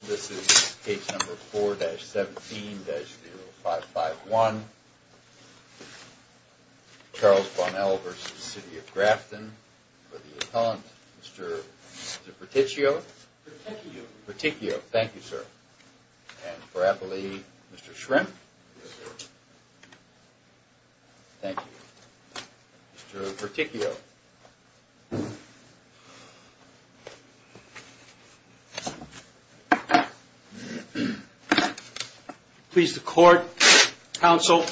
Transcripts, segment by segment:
This is case number 4-17-0551. Charles Bonnell v. City of Grafton. For the appellant, Mr. Berticchio. Berticchio. Thank you, sir. And for appellee, Mr. Shrimp. Thank you. Mr. Berticchio. Please the court, counsel.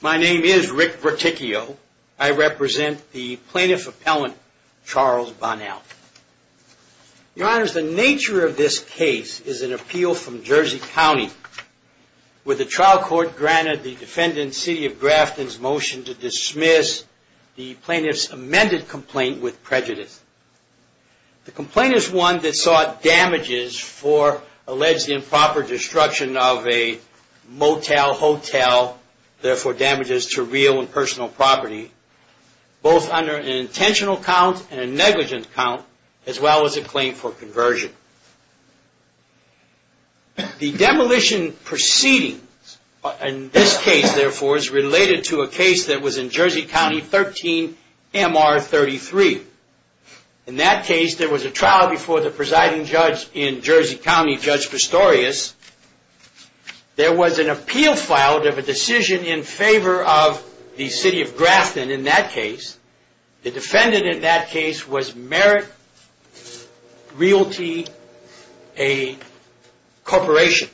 My name is Rick Berticchio. I represent the plaintiff appellant, Charles Bonnell. Your honors, the nature of this case is an appeal from Jersey County, where the trial court granted the defendant, City of Grafton's motion to dismiss the plaintiff's amended complaint with prejudice. The complaint is one that sought damages for alleged improper destruction of a motel, hotel, therefore damages to real and personal property, both under an intentional count and a negligent count, as well as a claim for conversion. The demolition proceedings in this case, therefore, is related to a case that was in Jersey County 13-MR-33. In that case, there was a trial before the presiding judge in Jersey County, Judge Pistorius. There was an appeal filed of a decision in favor of the City of Grafton in that case. The defendant in that case was Merrick Realty, a corporation.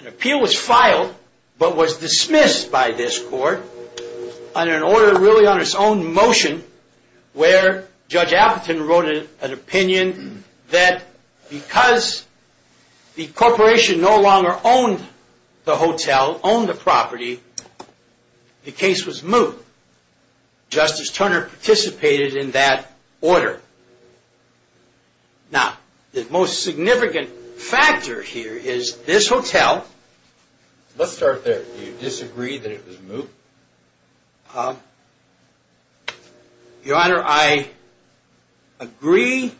An appeal was filed, but was dismissed by this court on an order really on its own motion, where Judge Appleton wrote an opinion that because the corporation no longer owned the hotel, owned the property, the case was moved. Justice Turner participated in that order. Now, the most significant factor here is this hotel. Let's start there. Do you disagree that it was moved? Your Honor, I agree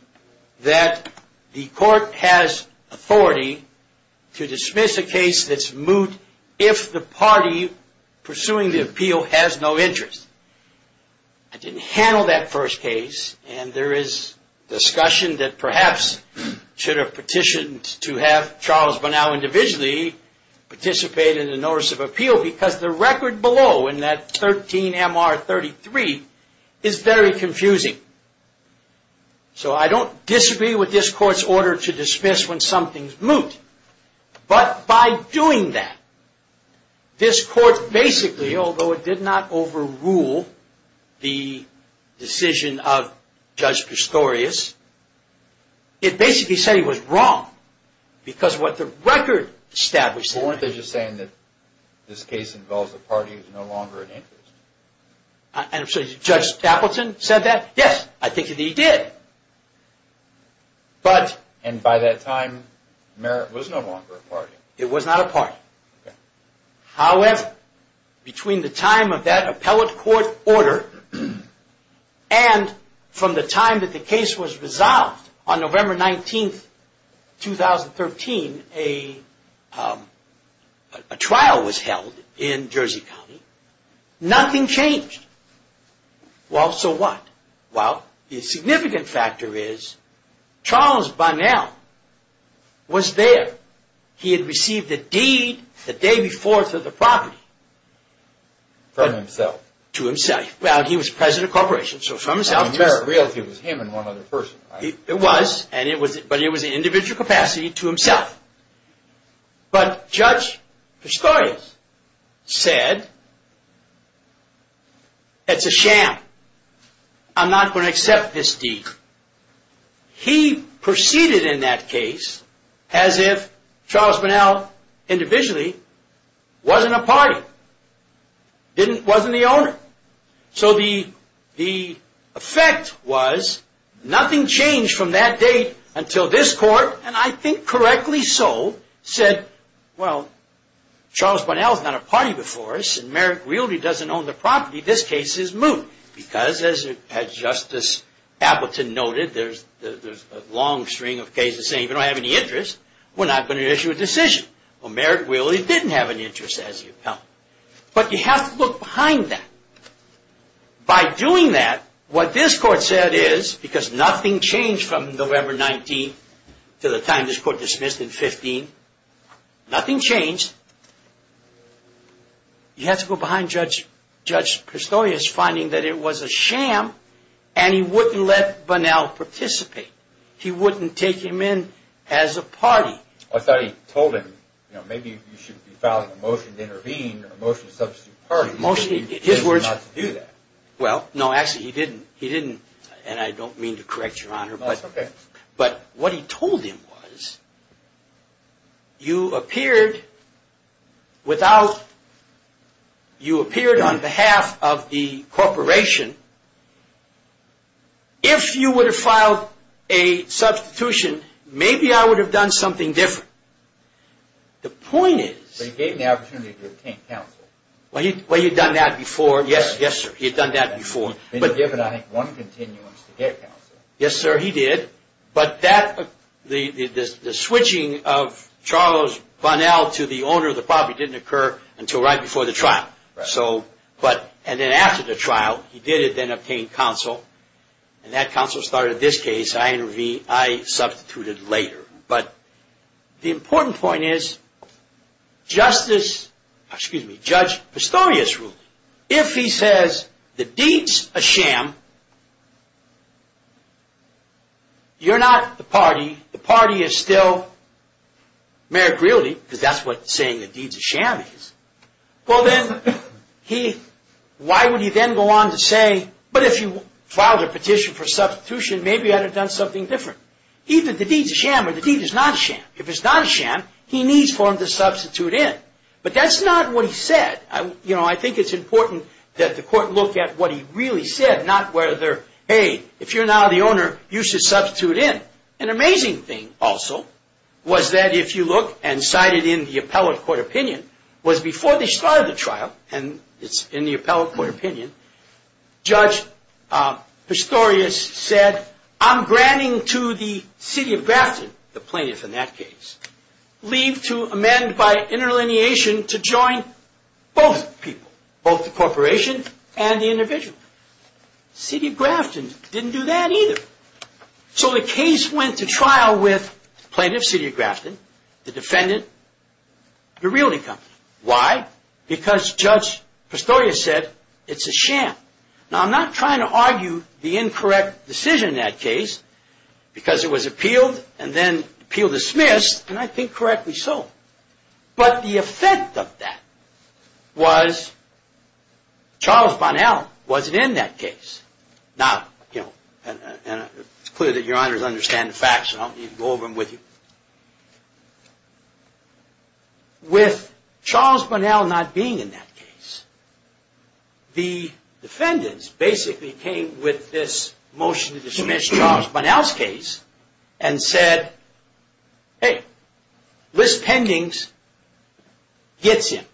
that the court has authority to dismiss a case that's moved if the party pursuing the appeal has no interest. I didn't handle that first case, and there is discussion that perhaps should have petitioned to have Charles Bunow individually participate in the notice of appeal, because the record below in that 13-MR-33 is very confusing. So, I don't disagree with this court's order to dismiss when something's moved, but by doing that, this court basically, although it did not overrule the decision of Judge Pistorius, it basically said he was wrong because of what the record established. Well, weren't they just saying that this case involves a party who's no longer an interest? Judge Appleton said that? Yes, I think that he did. And by that time, Merritt was no longer a party? However, between the time of that appellate court order and from the time that the case was resolved on November 19, 2013, a trial was held in Jersey County. Nothing changed. Well, so what? Well, the significant factor is Charles Bunow was there. He had received a deed the day before to the property. From himself? To himself. Well, he was president of the corporation, so from himself. I mean, Merritt Realty was him and one other person. It was, but it was an individual capacity to himself. But Judge Pistorius said, it's a sham, I'm not going to accept this deed. He proceeded in that case as if Charles Bunow individually wasn't a party, wasn't the owner. So the effect was, nothing changed from that date until this court, and I think correctly so, said, well, Charles Bunow is not a party before us and Merritt Realty doesn't own the property, this case is moot. Because, as Justice Appleton noted, there's a long string of cases saying if you don't have any interest, we're not going to issue a decision. Well, Merritt Realty didn't have any interest as the appellate. But you have to look behind that. By doing that, what this court said is, because nothing changed from November 19 to the time this court dismissed in 15, nothing changed. You have to go behind Judge Pistorius finding that it was a sham and he wouldn't let Bunow participate. He wouldn't take him in as a party. I thought he told him, you know, maybe you should be filing a motion to intervene, a motion to substitute parties, but he refused not to do that. Well, no, actually he didn't, and I don't mean to correct your honor, but what he told him was, you appeared without, you appeared on behalf of the corporation. If you would have filed a substitution, maybe I would have done something different. The point is... But he gave him the opportunity to obtain counsel. Well, he had done that before. Yes, yes, sir. He had done that before. He had given, I think, one continuance to get counsel. Yes, sir, he did. But that, the switching of Charles Bunow to the owner of the property didn't occur until right before the trial. So, but, and then after the trial, he did it, then obtained counsel, and that counsel started this case, I intervened, I substituted later. But the important point is, Justice, excuse me, Judge Pistorius ruled, if he says the deed's a sham, you're not the party, the party is still Merrick Realty, because that's what saying the deed's a sham is. Well, then, he, why would he then go on to say, but if you filed a petition for substitution, maybe I'd have done something different. Either the deed's a sham or the deed is not a sham. If it's not a sham, he needs for him to substitute in. But that's not what he said. You know, I think it's important that the court look at what he really said, not whether, hey, if you're now the owner, you should substitute in. An amazing thing, also, was that if you look, and cited in the appellate court opinion, was before they started the trial, and it's in the appellate court opinion, Judge Pistorius said, I'm granting to the city of Grafton, the plaintiff in that case, leave to amend by interlineation to join both people, both the corporation and the individual. City of Grafton didn't do that either. So the case went to trial with plaintiff, city of Grafton, the defendant, the realty company. Why? Because Judge Pistorius said, it's a sham. Now, I'm not trying to argue the incorrect decision in that case, because it was appealed and then appeal dismissed, and I think correctly so. But the effect of that was Charles Bunnell wasn't in that case. Now, you know, and it's clear that your honors understand the facts, so I don't need to go over them with you. With Charles Bunnell not being in that case, the defendants basically came with this motion to dismiss Charles Bunnell's case and said, hey, List Pendings gets him.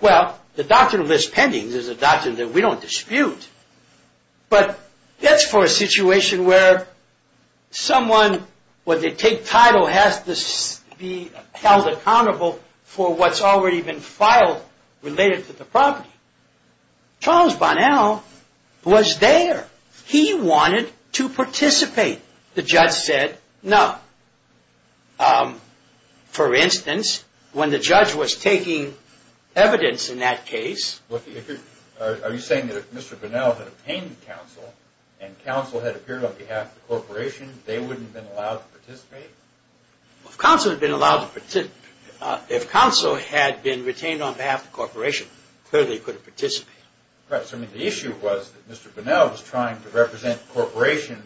Well, the doctrine of List Pendings is a doctrine that we don't dispute, but that's for a situation where someone, when they take title, has to be held accountable for what's already been filed related to the property. Charles Bunnell was there. He wanted to participate. The judge said, no. For instance, when the judge was taking evidence in that case. Are you saying that if Mr. Bunnell had obtained counsel and counsel had appeared on behalf of the corporation, they wouldn't have been allowed to participate? If counsel had been retained on behalf of the corporation, clearly he could have participated. Right, so the issue was that Mr. Bunnell was trying to represent the corporation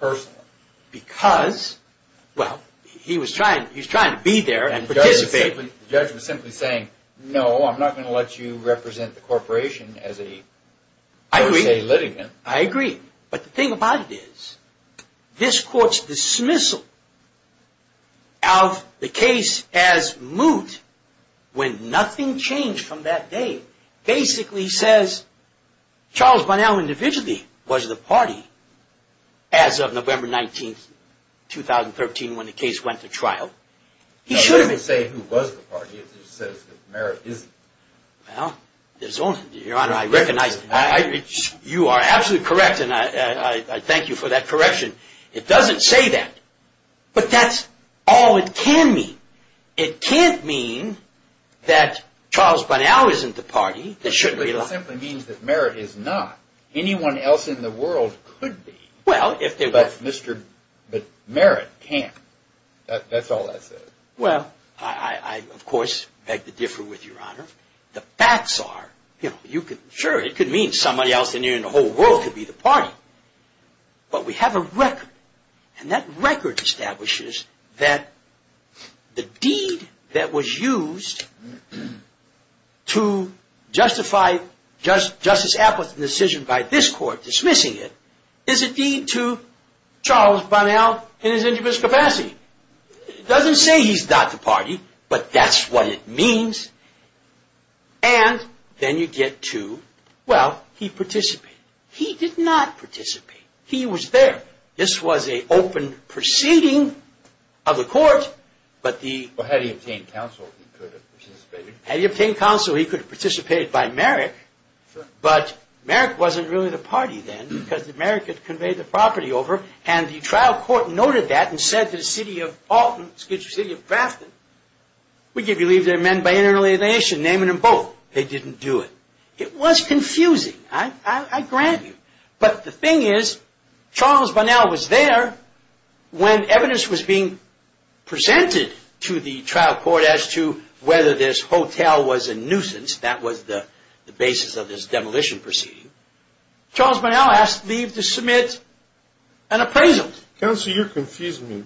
personally. Well, he was trying to be there and participate. The judge was simply saying, no, I'm not going to let you represent the corporation as a per se litigant. I agree, but the thing about it is, this court's dismissal of the case as moot, when nothing changed from that day, basically says, Charles Bunnell individually was the party as of November 19, 2013, when the case went to trial. It doesn't say who was the party. It just says that Merritt isn't. Well, Your Honor, I recognize that. You are absolutely correct, and I thank you for that correction. It doesn't say that, but that's all it can mean. It can't mean that Charles Bunnell isn't the party. It simply means that Merritt is not. Anyone else in the world could be, but Merritt can't. That's all that says. Well, I, of course, beg to differ with you, Your Honor. The facts are, sure, it could mean somebody else in the whole world could be the party, but we have a record, and that record establishes that the deed that was used to justify Justice Appleton's decision by this court, dismissing it, is a deed to Charles Bunnell in his injurious capacity. It doesn't say he's not the party, but that's what it means, and then you get to, well, he participated. He did not participate. He was there. This was an open proceeding of the court, but the- Well, had he obtained counsel, he could have participated. Had he obtained counsel, he could have participated by Merritt, but Merritt wasn't really the party then, because Merritt had conveyed the property over, and the trial court noted that and said to the city of Alton, excuse me, city of Grafton, we give you leave to amend by internal alienation, name it in bold. They didn't do it. It was confusing. I grant you. But the thing is, Charles Bunnell was there when evidence was being presented to the trial court as to whether this hotel was a nuisance. That was the basis of this demolition proceeding. Charles Bunnell asked leave to submit an appraisal. Counsel, you're confusing me.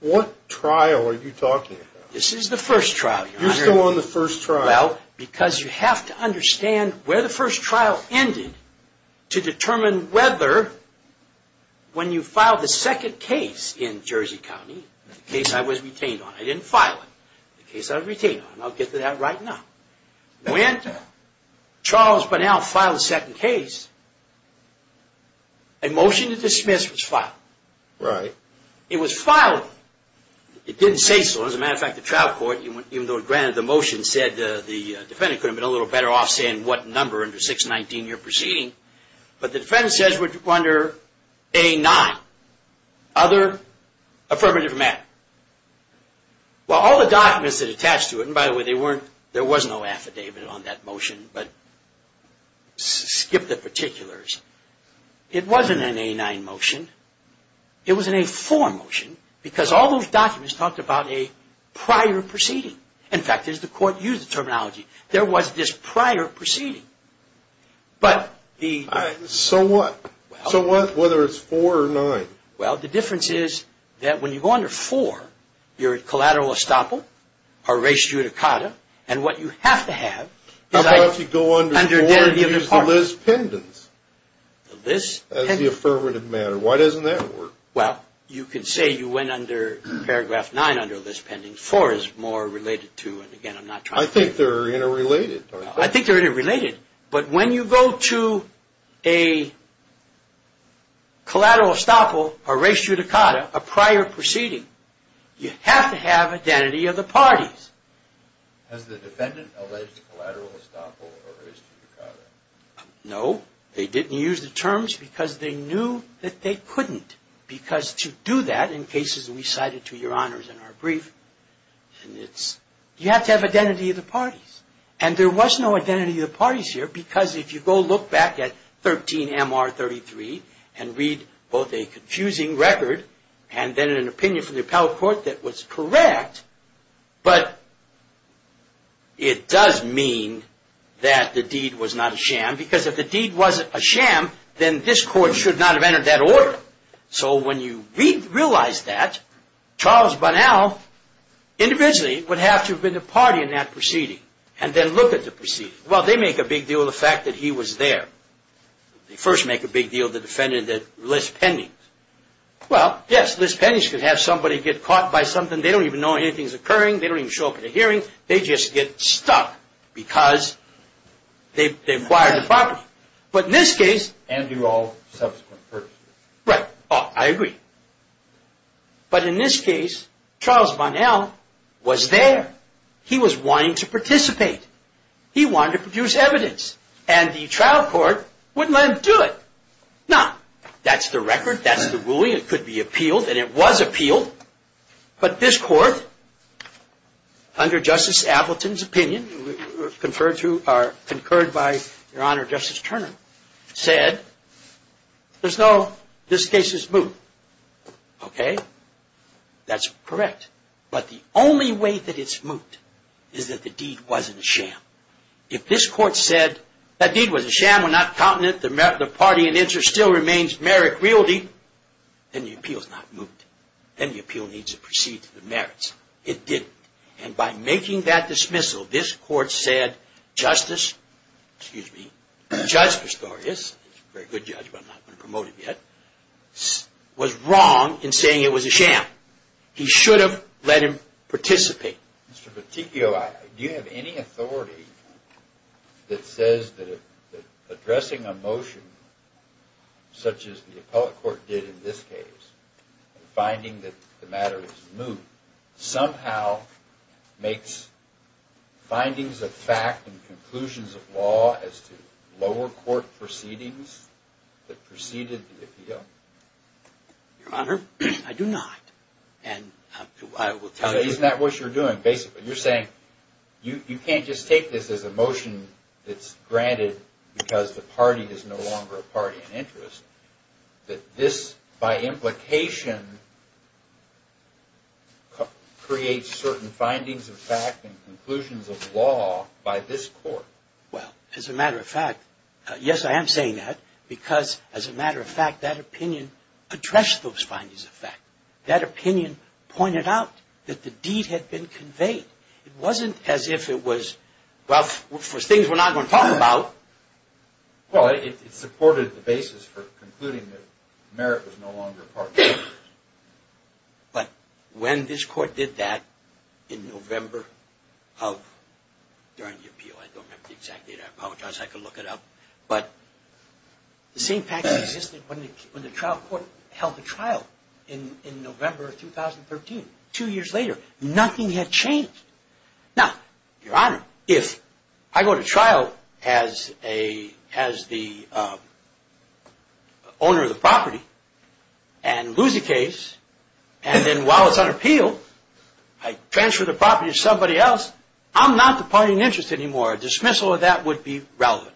What trial are you talking about? This is the first trial. You're still on the first trial. Well, because you have to understand where the first trial ended to determine whether, when you file the second case in Jersey County, the case I was retained on. I didn't file it. The case I was retained on. I'll get to that right now. When Charles Bunnell filed the second case, a motion to dismiss was filed. Right. It was filed. It didn't say so. As a matter of fact, the trial court, even though it granted the motion, said the defendant could have been a little better off saying what number under 619 you're proceeding. But the defendant says we're under A9, other affirmative matter. Well, all the documents that attach to it, and by the way, there was no affidavit on that motion, but skip the particulars. It wasn't an A9 motion. It was an A4 motion because all those documents talked about a prior proceeding. In fact, as the court used the terminology, there was this prior proceeding. So what? So what, whether it's 4 or 9? Well, the difference is that when you go under 4, you're at collateral estoppel or res judicata. And what you have to have is identity of the parties. How about if you go under 4 and use the lis pendens as the affirmative matter? Why doesn't that work? Well, you could say you went under paragraph 9 under lis pendens. 4 is more related to, and again, I'm not trying to – I think they're interrelated. I think they're interrelated. But when you go to a collateral estoppel or res judicata, a prior proceeding, you have to have identity of the parties. Has the defendant alleged collateral estoppel or res judicata? No. They didn't use the terms because they knew that they couldn't. Because to do that in cases we cited to your honors in our brief, you have to have identity of the parties. And there was no identity of the parties here because if you go look back at 13MR33 and read both a confusing record and then an opinion from the appellate court that was correct, but it does mean that the deed was not a sham because if the deed wasn't a sham, then this court should not have entered that order. So when you realize that, Charles Bunnell individually would have to have been the party in that proceeding and then look at the proceeding. Well, they make a big deal of the fact that he was there. They first make a big deal of the defendant that lis pendens. Well, yes, lis pendens could have somebody get caught by something. They don't even know anything's occurring. They don't even show up at a hearing. They just get stuck because they acquired the property. But in this case... And do all subsequent purchases. Right. I agree. But in this case, Charles Bunnell was there. He was wanting to participate. He wanted to produce evidence. And the trial court wouldn't let him do it. Now, that's the record. That's the ruling. It could be appealed. And it was appealed. But this court, under Justice Appleton's opinion, conferred to or concurred by Your Honor, Justice Turner, said there's no... This case is moot. Okay? That's correct. But the only way that it's moot is that the deed wasn't a sham. If this court said that deed was a sham, we're not counting it, the party in interest still remains merrick realty, then the appeal's not moot. Then the appeal needs to proceed to the merits. It didn't. And by making that dismissal, this court said Justice... Excuse me. Judge Pistorius, a very good judge, but I'm not going to promote him yet, was wrong in saying it was a sham. He should have let him participate. Mr. Peticchio, do you have any authority that says that addressing a motion such as the appellate court did in this case, finding that the matter is moot, somehow makes findings of fact and conclusions of law as to lower court proceedings that preceded the appeal? Your Honor, I do not. And I will tell you... Isn't that what you're doing, basically? You're saying you can't just take this as a motion that's granted because the party is no longer a party in interest, that this, by implication, creates certain findings of fact and conclusions of law by this court. Well, as a matter of fact, yes, I am saying that because, as a matter of fact, that opinion addressed those findings of fact. That opinion pointed out that the deed had been conveyed. It wasn't as if it was, well, for things we're not going to talk about. Well, it supported the basis for concluding that merit was no longer a part of interest. But when this court did that in November of, during the appeal, I don't have the exact date. I apologize. I can look it up. But the same practice existed when the trial court held the trial in November of 2013, two years later. Nothing had changed. Now, Your Honor, if I go to trial as the owner of the property and lose the case, and then while it's on appeal, I transfer the property to somebody else, I'm not the party in interest anymore. A dismissal of that would be relevant.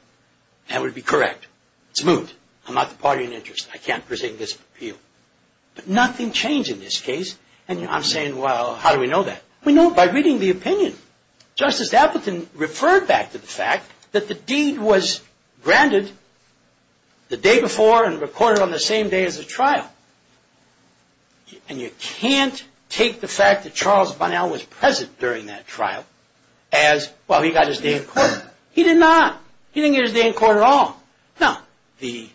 That would be correct. It's moved. I'm not the party in interest. I can't present this appeal. But nothing changed in this case. And I'm saying, well, how do we know that? We know by reading the opinion. Justice Appleton referred back to the fact that the deed was granted the day before and recorded on the same day as the trial. And you can't take the fact that Charles Bunnell was present during that trial as, well, he got his day in court. He did not. He didn't get his day in court at all. No. Well,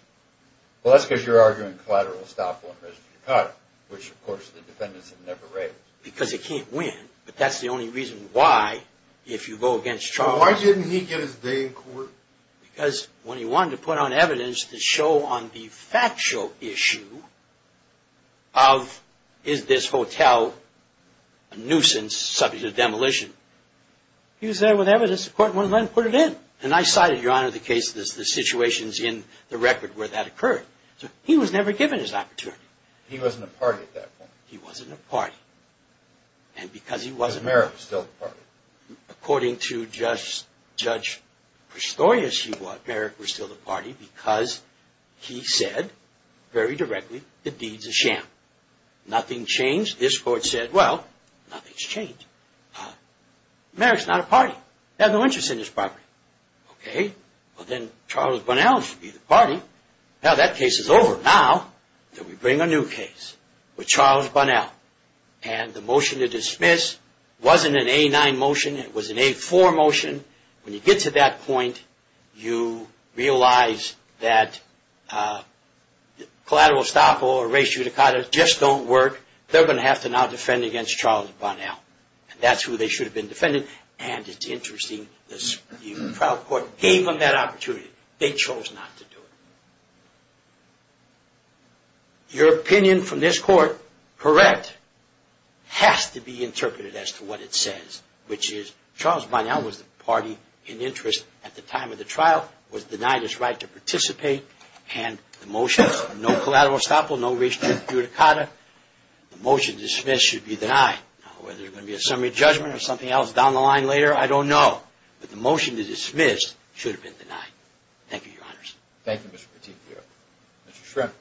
that's because you're arguing collateral estoppel and residue court, which, of course, the defendants have never raised. Because he can't win. But that's the only reason why, if you go against Charles. Well, why didn't he get his day in court? Because when he wanted to put on evidence to show on the factual issue of, is this hotel a nuisance subject to demolition? He was there with evidence. The court wouldn't let him put it in. And I cited, Your Honor, the cases, the situations in the record where that occurred. So he was never given his opportunity. He wasn't a party at that point. He wasn't a party. And because he wasn't a party. But Merrick was still the party. According to Judge Prestoius, Merrick was still the party because he said very directly, the deed's a sham. Nothing changed. This court said, well, nothing's changed. Merrick's not a party. He has no interest in this property. Okay. Well, then Charles Bunnell should be the party. Now that case is over. Now we bring a new case with Charles Bunnell. And the motion to dismiss wasn't an A-9 motion. It was an A-4 motion. When you get to that point, you realize that collateral estoppel or res judicata just don't work. They're going to have to now defend against Charles Bunnell. And that's who they should have been defending. And it's interesting, the trial court gave them that opportunity. They chose not to do it. Your opinion from this court, correct, has to be interpreted as to what it says, which is Charles Bunnell was the party in interest at the time of the trial, was denied his right to participate. And the motion is no collateral estoppel, no res judicata. The motion to dismiss should be denied. Now whether there's going to be a summary judgment or something else down the line later, I don't know. But the motion to dismiss should have been denied. Thank you, Your Honors. Thank you, Mr. Petitfio. Mr. Schrempf.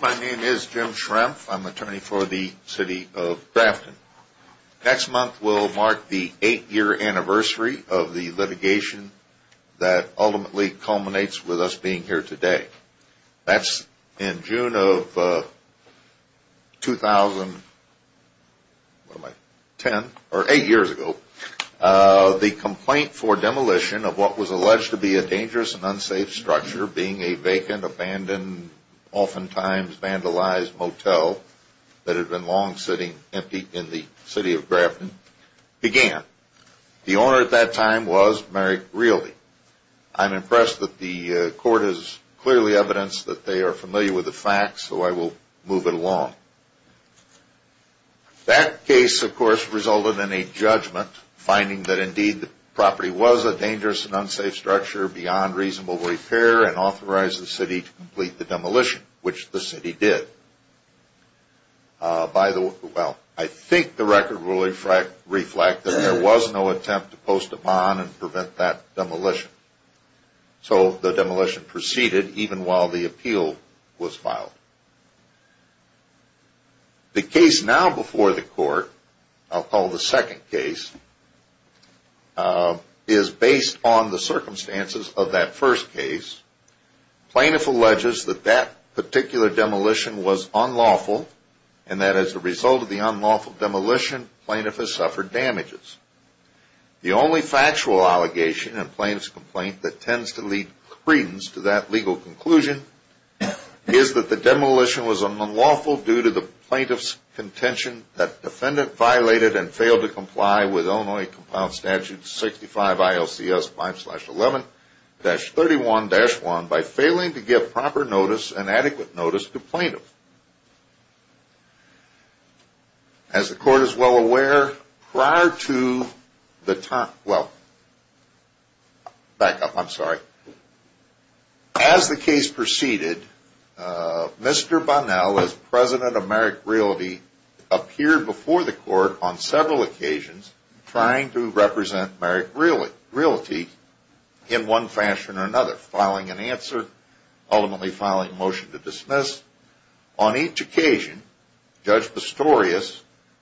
My name is Jim Schrempf. I'm attorney for the city of Grafton. Next month will mark the eight-year anniversary of the litigation that ultimately culminates with us being here today. That's in June of 2010, or eight years ago, the complaint for demolition of what was alleged to be a dangerous and unsafe structure being a vacant, abandoned, oftentimes vandalized motel that had been long sitting empty in the city of Grafton began. The owner at that time was Merrick Realty. I'm impressed that the court has clearly evidenced that they are familiar with the facts, so I will move it along. That case, of course, resulted in a judgment, finding that indeed the property was a dangerous and unsafe structure beyond reasonable repair and authorized the city to complete the demolition, which the city did. By the way, well, I think the record will reflect that there was no attempt to post a bond and prevent that demolition. So the demolition proceeded even while the appeal was filed. The case now before the court, I'll call the second case, is based on the circumstances of that first case. Plaintiff alleges that that particular demolition was unlawful and that as a result of the unlawful demolition, plaintiff has suffered damages. The only factual allegation in plaintiff's complaint that tends to lead credence to that legal conclusion is that the demolition was unlawful due to the plaintiff's contention that defendant violated and failed to comply with Illinois Compound Statute 65 ILCS 5-11-31-1 by failing to give proper notice and adequate notice to plaintiff. As the court is well aware, prior to the time, well, back up, I'm sorry. As the case proceeded, Mr. Bonnell, as President of Merrick Realty, appeared before the court on several occasions trying to represent Merrick Realty in one fashion or another, filing an answer, ultimately filing a motion to dismiss. On each occasion, Judge Pistorius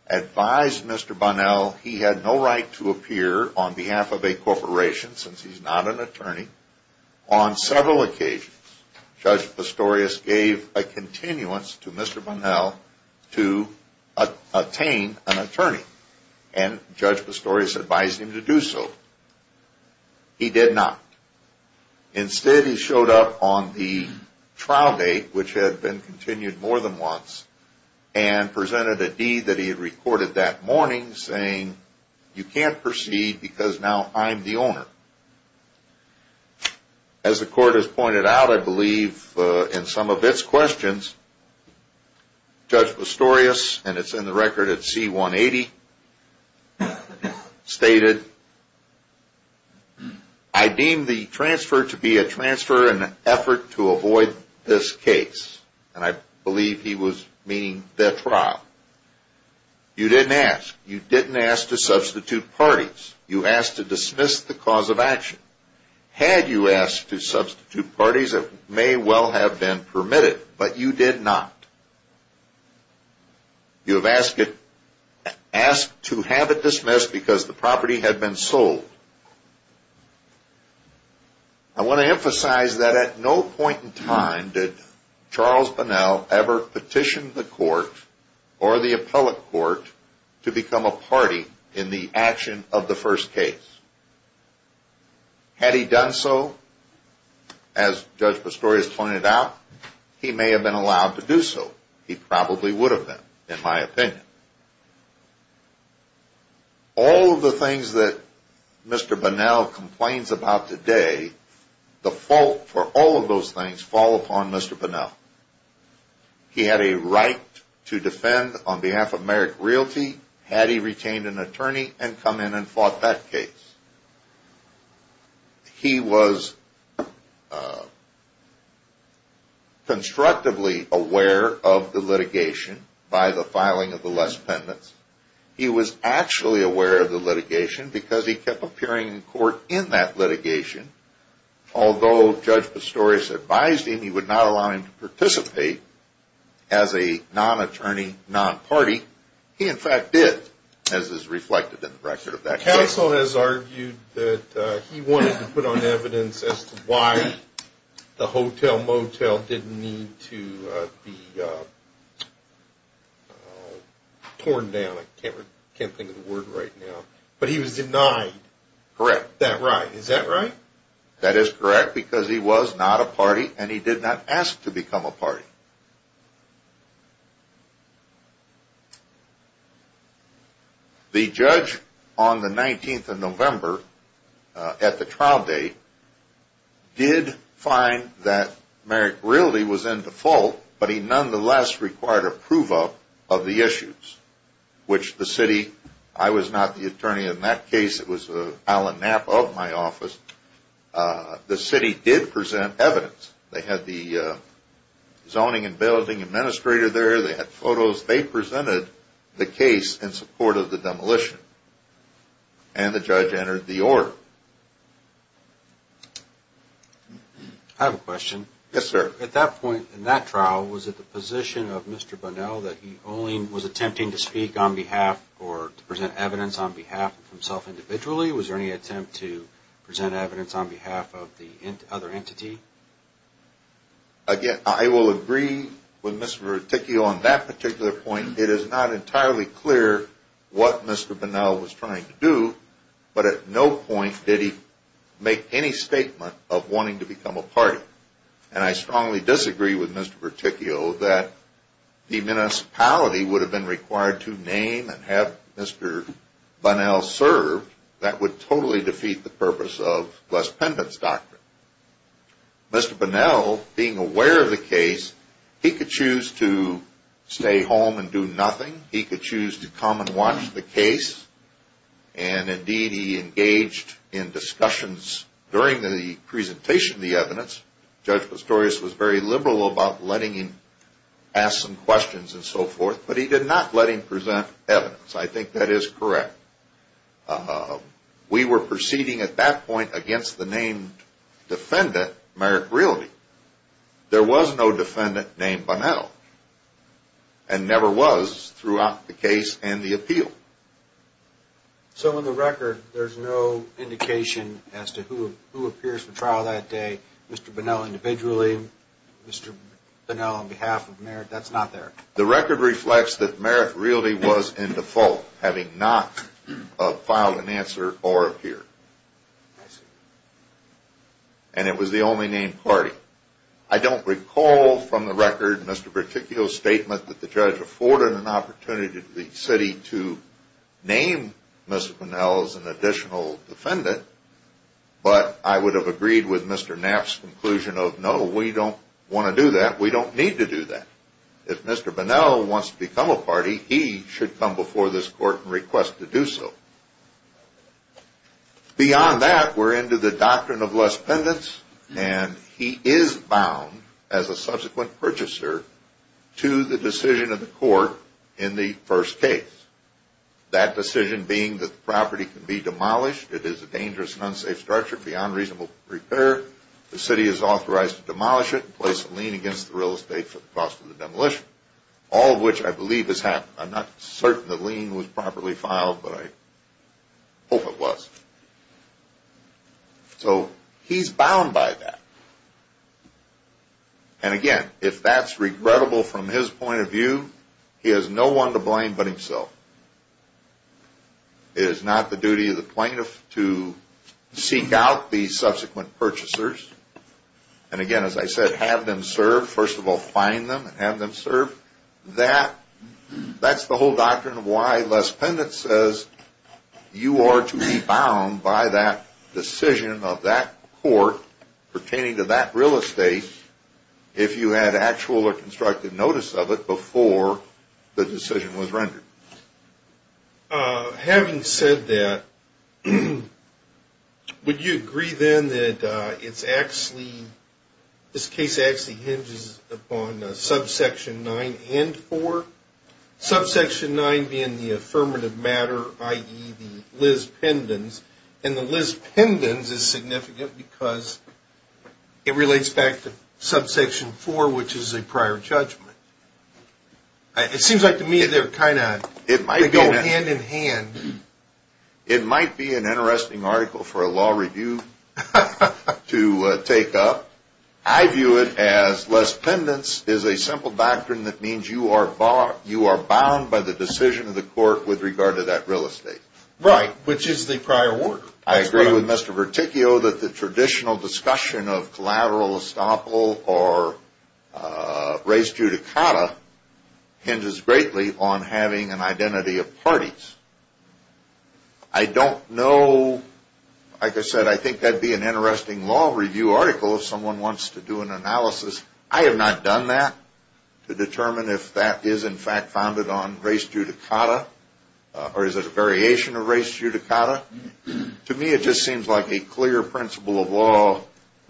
advised Mr. Bonnell he had no right to appear on behalf of a corporation since he's not an attorney. On several occasions, Judge Pistorius gave a continuance to Mr. Bonnell to attain an attorney and Judge Pistorius advised him to do so. He did not. Instead, he showed up on the trial date, which had been continued more than once, and presented a deed that he had recorded that morning saying, you can't proceed because now I'm the owner. As the court has pointed out, I believe in some of its questions, Judge Pistorius, and it's in the record at C-180, stated, I deem the transfer to be a transfer in an effort to avoid this case. And I believe he was meaning their trial. You didn't ask. You didn't ask to substitute parties. You asked to dismiss the cause of action. Had you asked to substitute parties, it may well have been permitted, but you did not. You have asked to have it dismissed because the property had been sold. I want to emphasize that at no point in time did Charles Bonnell ever petition the court or the appellate court to become a party in the action of the first case. Had he done so, as Judge Pistorius pointed out, he may have been allowed to do so. He probably would have been, in my opinion. All of the things that Mr. Bonnell complains about today, the fault for all of those things fall upon Mr. Bonnell. He had a right to defend on behalf of Merrick Realty had he retained an attorney and come in and fought that case. He was constructively aware of the litigation by the filing of the less pendants. He was actually aware of the litigation because he kept appearing in court in that litigation. Although Judge Pistorius advised him he would not allow him to participate as a non-attorney, non-party, he in fact did, as is reflected in the record of that case. Counsel has argued that he wanted to put on evidence as to why the Hotel Motel didn't need to be torn down. I can't think of the word right now. But he was denied that right. Is that right? That is correct because he was not a party and he did not ask to become a party. The judge on the 19th of November at the trial date did find that Merrick Realty was in default, but he nonetheless required approval of the issues, which the city, I was not the attorney in that case. It was Alan Knapp of my office. The city did present evidence. They had the zoning and building administrator there. They had photos. They presented the case in support of the demolition. And the judge entered the order. I have a question. Yes, sir. At that point in that trial, was it the position of Mr. Bunnell that he only was attempting to speak on behalf or to present evidence on behalf of himself individually? Was there any attempt to present evidence on behalf of the other entity? Again, I will agree with Mr. Berticchio on that particular point. It is not entirely clear what Mr. Bunnell was trying to do, but at no point did he make any statement of wanting to become a party. And I strongly disagree with Mr. Berticchio that the municipality would have been required to name and have Mr. Bunnell served. That would totally defeat the purpose of Les Pendant's doctrine. Mr. Bunnell, being aware of the case, he could choose to stay home and do nothing. He could choose to come and watch the case. And, indeed, he engaged in discussions during the presentation of the evidence. Judge Pistorius was very liberal about letting him ask some questions and so forth, but he did not let him present evidence. I think that is correct. We were proceeding at that point against the named defendant, Merrick Realty. There was no defendant named Bunnell and never was throughout the case and the appeal. So in the record, there's no indication as to who appears for trial that day, Mr. Bunnell individually, Mr. Bunnell on behalf of Merrick? That's not there. The record reflects that Merrick Realty was in default, having not filed an answer or appeared. And it was the only named party. I don't recall from the record Mr. Berticchio's statement that the judge afforded an opportunity to the city to name Mr. Bunnell as an additional defendant, but I would have agreed with Mr. Knapp's conclusion of, no, we don't want to do that. We don't need to do that. If Mr. Bunnell wants to become a party, he should come before this court and request to do so. Beyond that, we're into the doctrine of less pendants, and he is bound as a subsequent purchaser to the decision of the court in the first case. That decision being that the property can be demolished. It is a dangerous and unsafe structure beyond reasonable repair. The city is authorized to demolish it and place a lien against the real estate for the cost of the demolition, all of which I believe has happened. I'm not certain the lien was properly filed, but I hope it was. So he's bound by that. And again, if that's regrettable from his point of view, he has no one to blame but himself. It is not the duty of the plaintiff to seek out the subsequent purchasers. And again, as I said, have them served. First of all, find them and have them served. That's the whole doctrine of why less pendants says you are to be bound by that decision of that court pertaining to that real estate if you had actual or constructive notice of it before the decision was rendered. Having said that, would you agree then that this case actually hinges upon subsection 9 and 4? Subsection 9 being the affirmative matter, i.e. the less pendants. And the less pendants is significant because it relates back to subsection 4, which is a prior judgment. It seems like to me they're kind of hand in hand. It might be an interesting article for a law review to take up. I view it as less pendants is a simple doctrine that means you are bound by the decision of the court with regard to that real estate. Right, which is the prior work. I agree with Mr. Verticchio that the traditional discussion of collateral estoppel or res judicata hinges greatly on having an identity of parties. I don't know. Like I said, I think that would be an interesting law review article if someone wants to do an analysis. I have not done that to determine if that is in fact founded on res judicata or is it a variation of res judicata. To me it just seems like a clear principle of law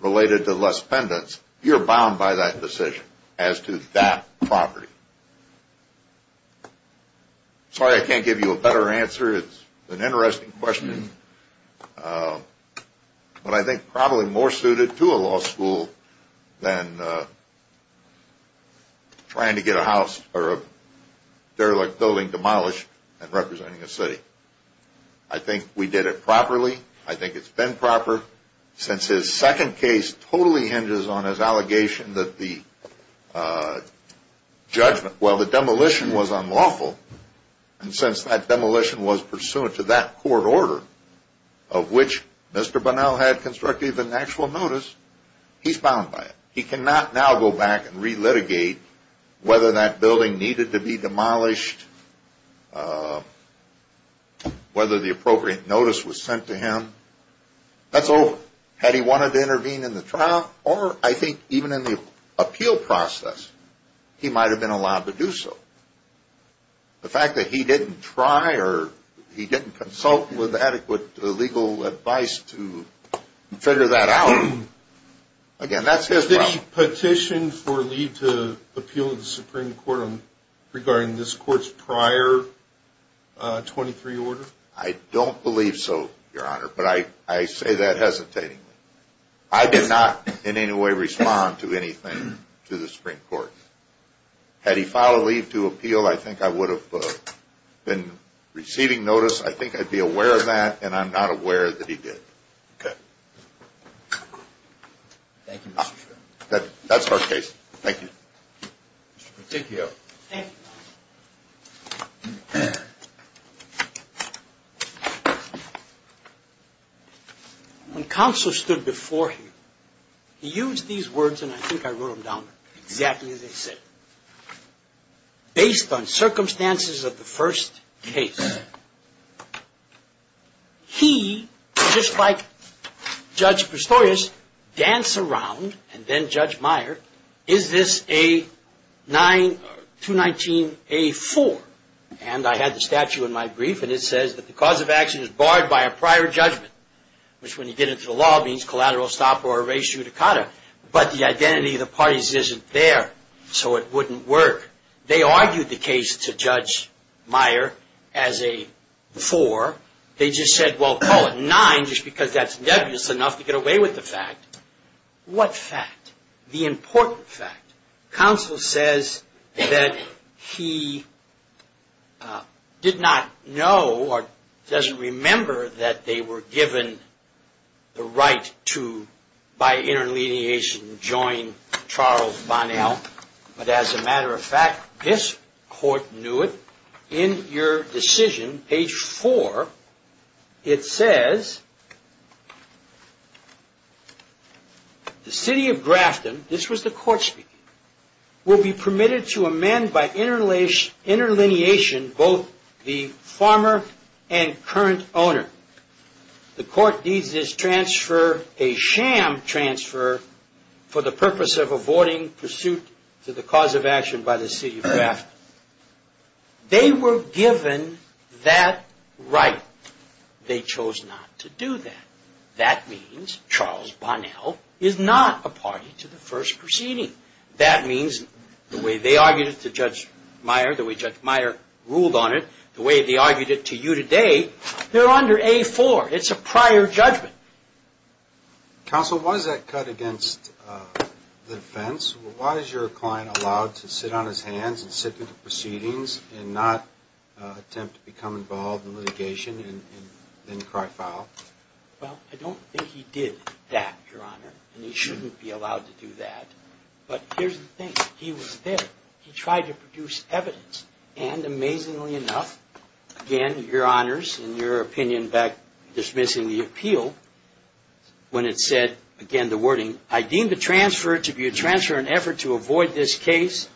related to less pendants. You're bound by that decision as to that property. Sorry I can't give you a better answer. It's an interesting question, but I think probably more suited to a law school than trying to get a house or a derelict building demolished and representing a city. I think we did it properly. I think it's been proper. Since his second case totally hinges on his allegation that the demolition was unlawful and since that demolition was pursuant to that court order, of which Mr. Bunnell had constructed an actual notice, he's bound by it. He cannot now go back and re-litigate whether that building needed to be demolished, whether the appropriate notice was sent to him. That's over. Had he wanted to intervene in the trial, or I think even in the appeal process, he might have been allowed to do so. The fact that he didn't try or he didn't consult with adequate legal advice to figure that out, again, that's his problem. Did he petition for leave to appeal to the Supreme Court regarding this court's prior 23 order? I don't believe so, Your Honor, but I say that hesitatingly. I did not in any way respond to anything to the Supreme Court. Had he filed a leave to appeal, I think I would have been receiving notice. I think I'd be aware of that, and I'm not aware that he did. Okay. Thank you, Mr. Chairman. That's our case. Thank you. Mr. Peticchio. When Counselor stood before him, he used these words, and I think I wrote them down exactly as they said. Based on circumstances of the first case, he, just like Judge Prestorius, danced around, and then Judge Meyer, is this a 9-1-1 case? Or 219-A-4? And I had the statute in my brief, and it says that the cause of action is barred by a prior judgment, which when you get into the law means collateral stop or erasure to COTA. But the identity of the parties isn't there, so it wouldn't work. They argued the case to Judge Meyer as a 4. They just said, well, call it 9 just because that's nebulous enough to get away with the fact. What fact? The important fact. Counsel says that he did not know or doesn't remember that they were given the right to, by interleavation, join Charles Bonnell. But as a matter of fact, this court knew it. In your decision, page 4, it says, the city of Grafton, this was the court speaking, will be permitted to amend by interleavation both the former and current owner. The court needs this transfer, a sham transfer, for the purpose of avoiding pursuit to the cause of action by the city of Grafton. They were given that right. They chose not to do that. That means Charles Bonnell is not a party to the first proceeding. That means the way they argued it to Judge Meyer, the way Judge Meyer ruled on it, the way they argued it to you today, they're under A4. It's a prior judgment. Counsel, why is that cut against the defense? Counsel, why is your client allowed to sit on his hands and sit through the proceedings and not attempt to become involved in litigation and then cry foul? Well, I don't think he did that, Your Honor, and he shouldn't be allowed to do that. But here's the thing. He was there. He tried to produce evidence. And amazingly enough, again, Your Honors, in your opinion back dismissing the appeal, when it said, again, the wording, I deem the transfer to be a transfer in effort to avoid this case.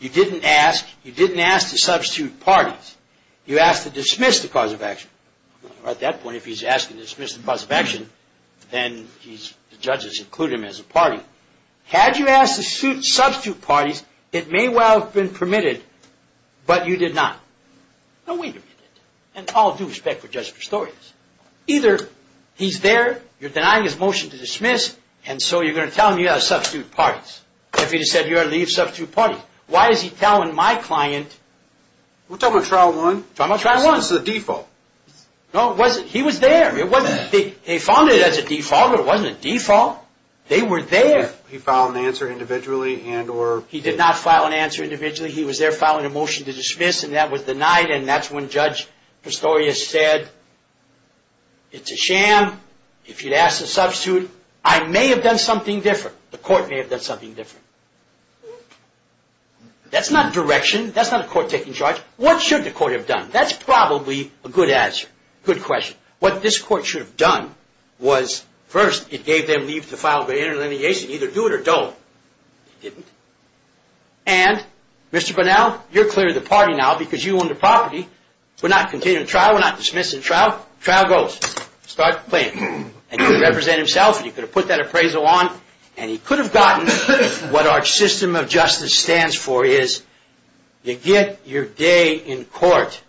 You didn't ask. You didn't ask to substitute parties. You asked to dismiss the cause of action. At that point, if he's asking to dismiss the cause of action, then the judges include him as a party. Had you asked to substitute parties, it may well have been permitted, but you did not. No way you did that. And I'll do respect for Judge Pastore. Either he's there, you're denying his motion to dismiss, and so you're going to tell him you've got to substitute parties. If he said you've got to leave, substitute parties. Why is he telling my client? We're talking about Trial 1. We're talking about Trial 1. This is a default. No, it wasn't. He was there. It wasn't. They found it as a default. It wasn't a default. They were there. He filed an answer individually and or? He did not file an answer individually. He was there filing a motion to dismiss, and that was denied, and that's when Judge Pastore said, it's a sham. If you'd asked to substitute, I may have done something different. The court may have done something different. That's not direction. That's not a court taking charge. What should the court have done? That's probably a good answer. Good question. What this court should have done was, first, it gave them leave to file their inner litigation. Either do it or don't. It didn't. And, Mr. Bunnell, you're clear of the party now because you own the property. We're not continuing the trial. We're not dismissing the trial. The trial goes. Start playing. He could represent himself or he could have put that appraisal on, and he could have gotten what our system of justice stands for, is you get your day in court.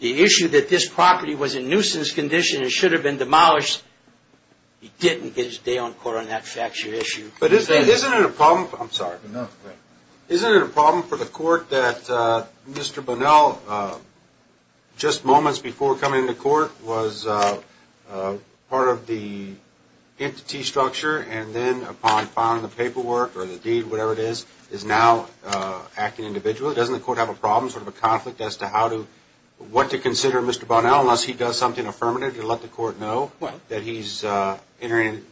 The issue that this property was in nuisance condition and should have been demolished, he didn't get his day on court on that factual issue. Isn't it a problem? I'm sorry. Isn't it a problem for the court that Mr. Bunnell, just moments before coming into court, was part of the entity structure and then upon filing the paperwork or the deed, whatever it is, is now acting individually? Doesn't the court have a problem, sort of a conflict as to what to consider Mr. Bunnell unless he does something affirmative to let the court know that he's entering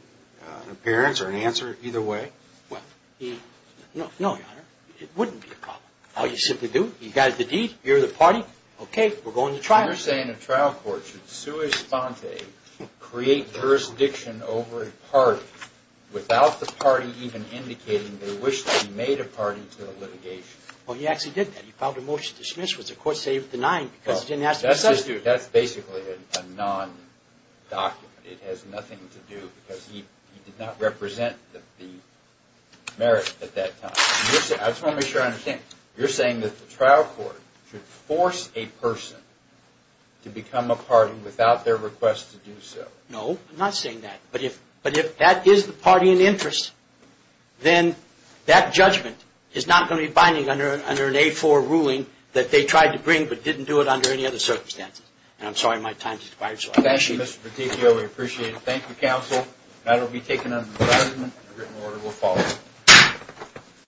an appearance or an answer either way? No, Your Honor. It wouldn't be a problem. All you simply do, you've got the deed, you're the party, okay, we're going to trial. You're saying a trial court should sui sponte, create jurisdiction over a party without the party even indicating they wish to be made a party to the litigation. Well, he actually did that. He filed a motion to dismiss, which the court saved the nine because it didn't have to be substituted. That's basically a non-document. It has nothing to do because he did not represent the merit at that time. I just want to make sure I understand. You're saying that the trial court should force a person to become a party without their request to do so. No, I'm not saying that. But if that is the party in interest, then that judgment is not going to be binding under an A-4 ruling that they tried to bring but didn't do it under any other circumstances. And I'm sorry my time's expired. Thank you, Mr. Peticcio. We appreciate it. Thank you, counsel. That will be taken under the president. The written order will follow.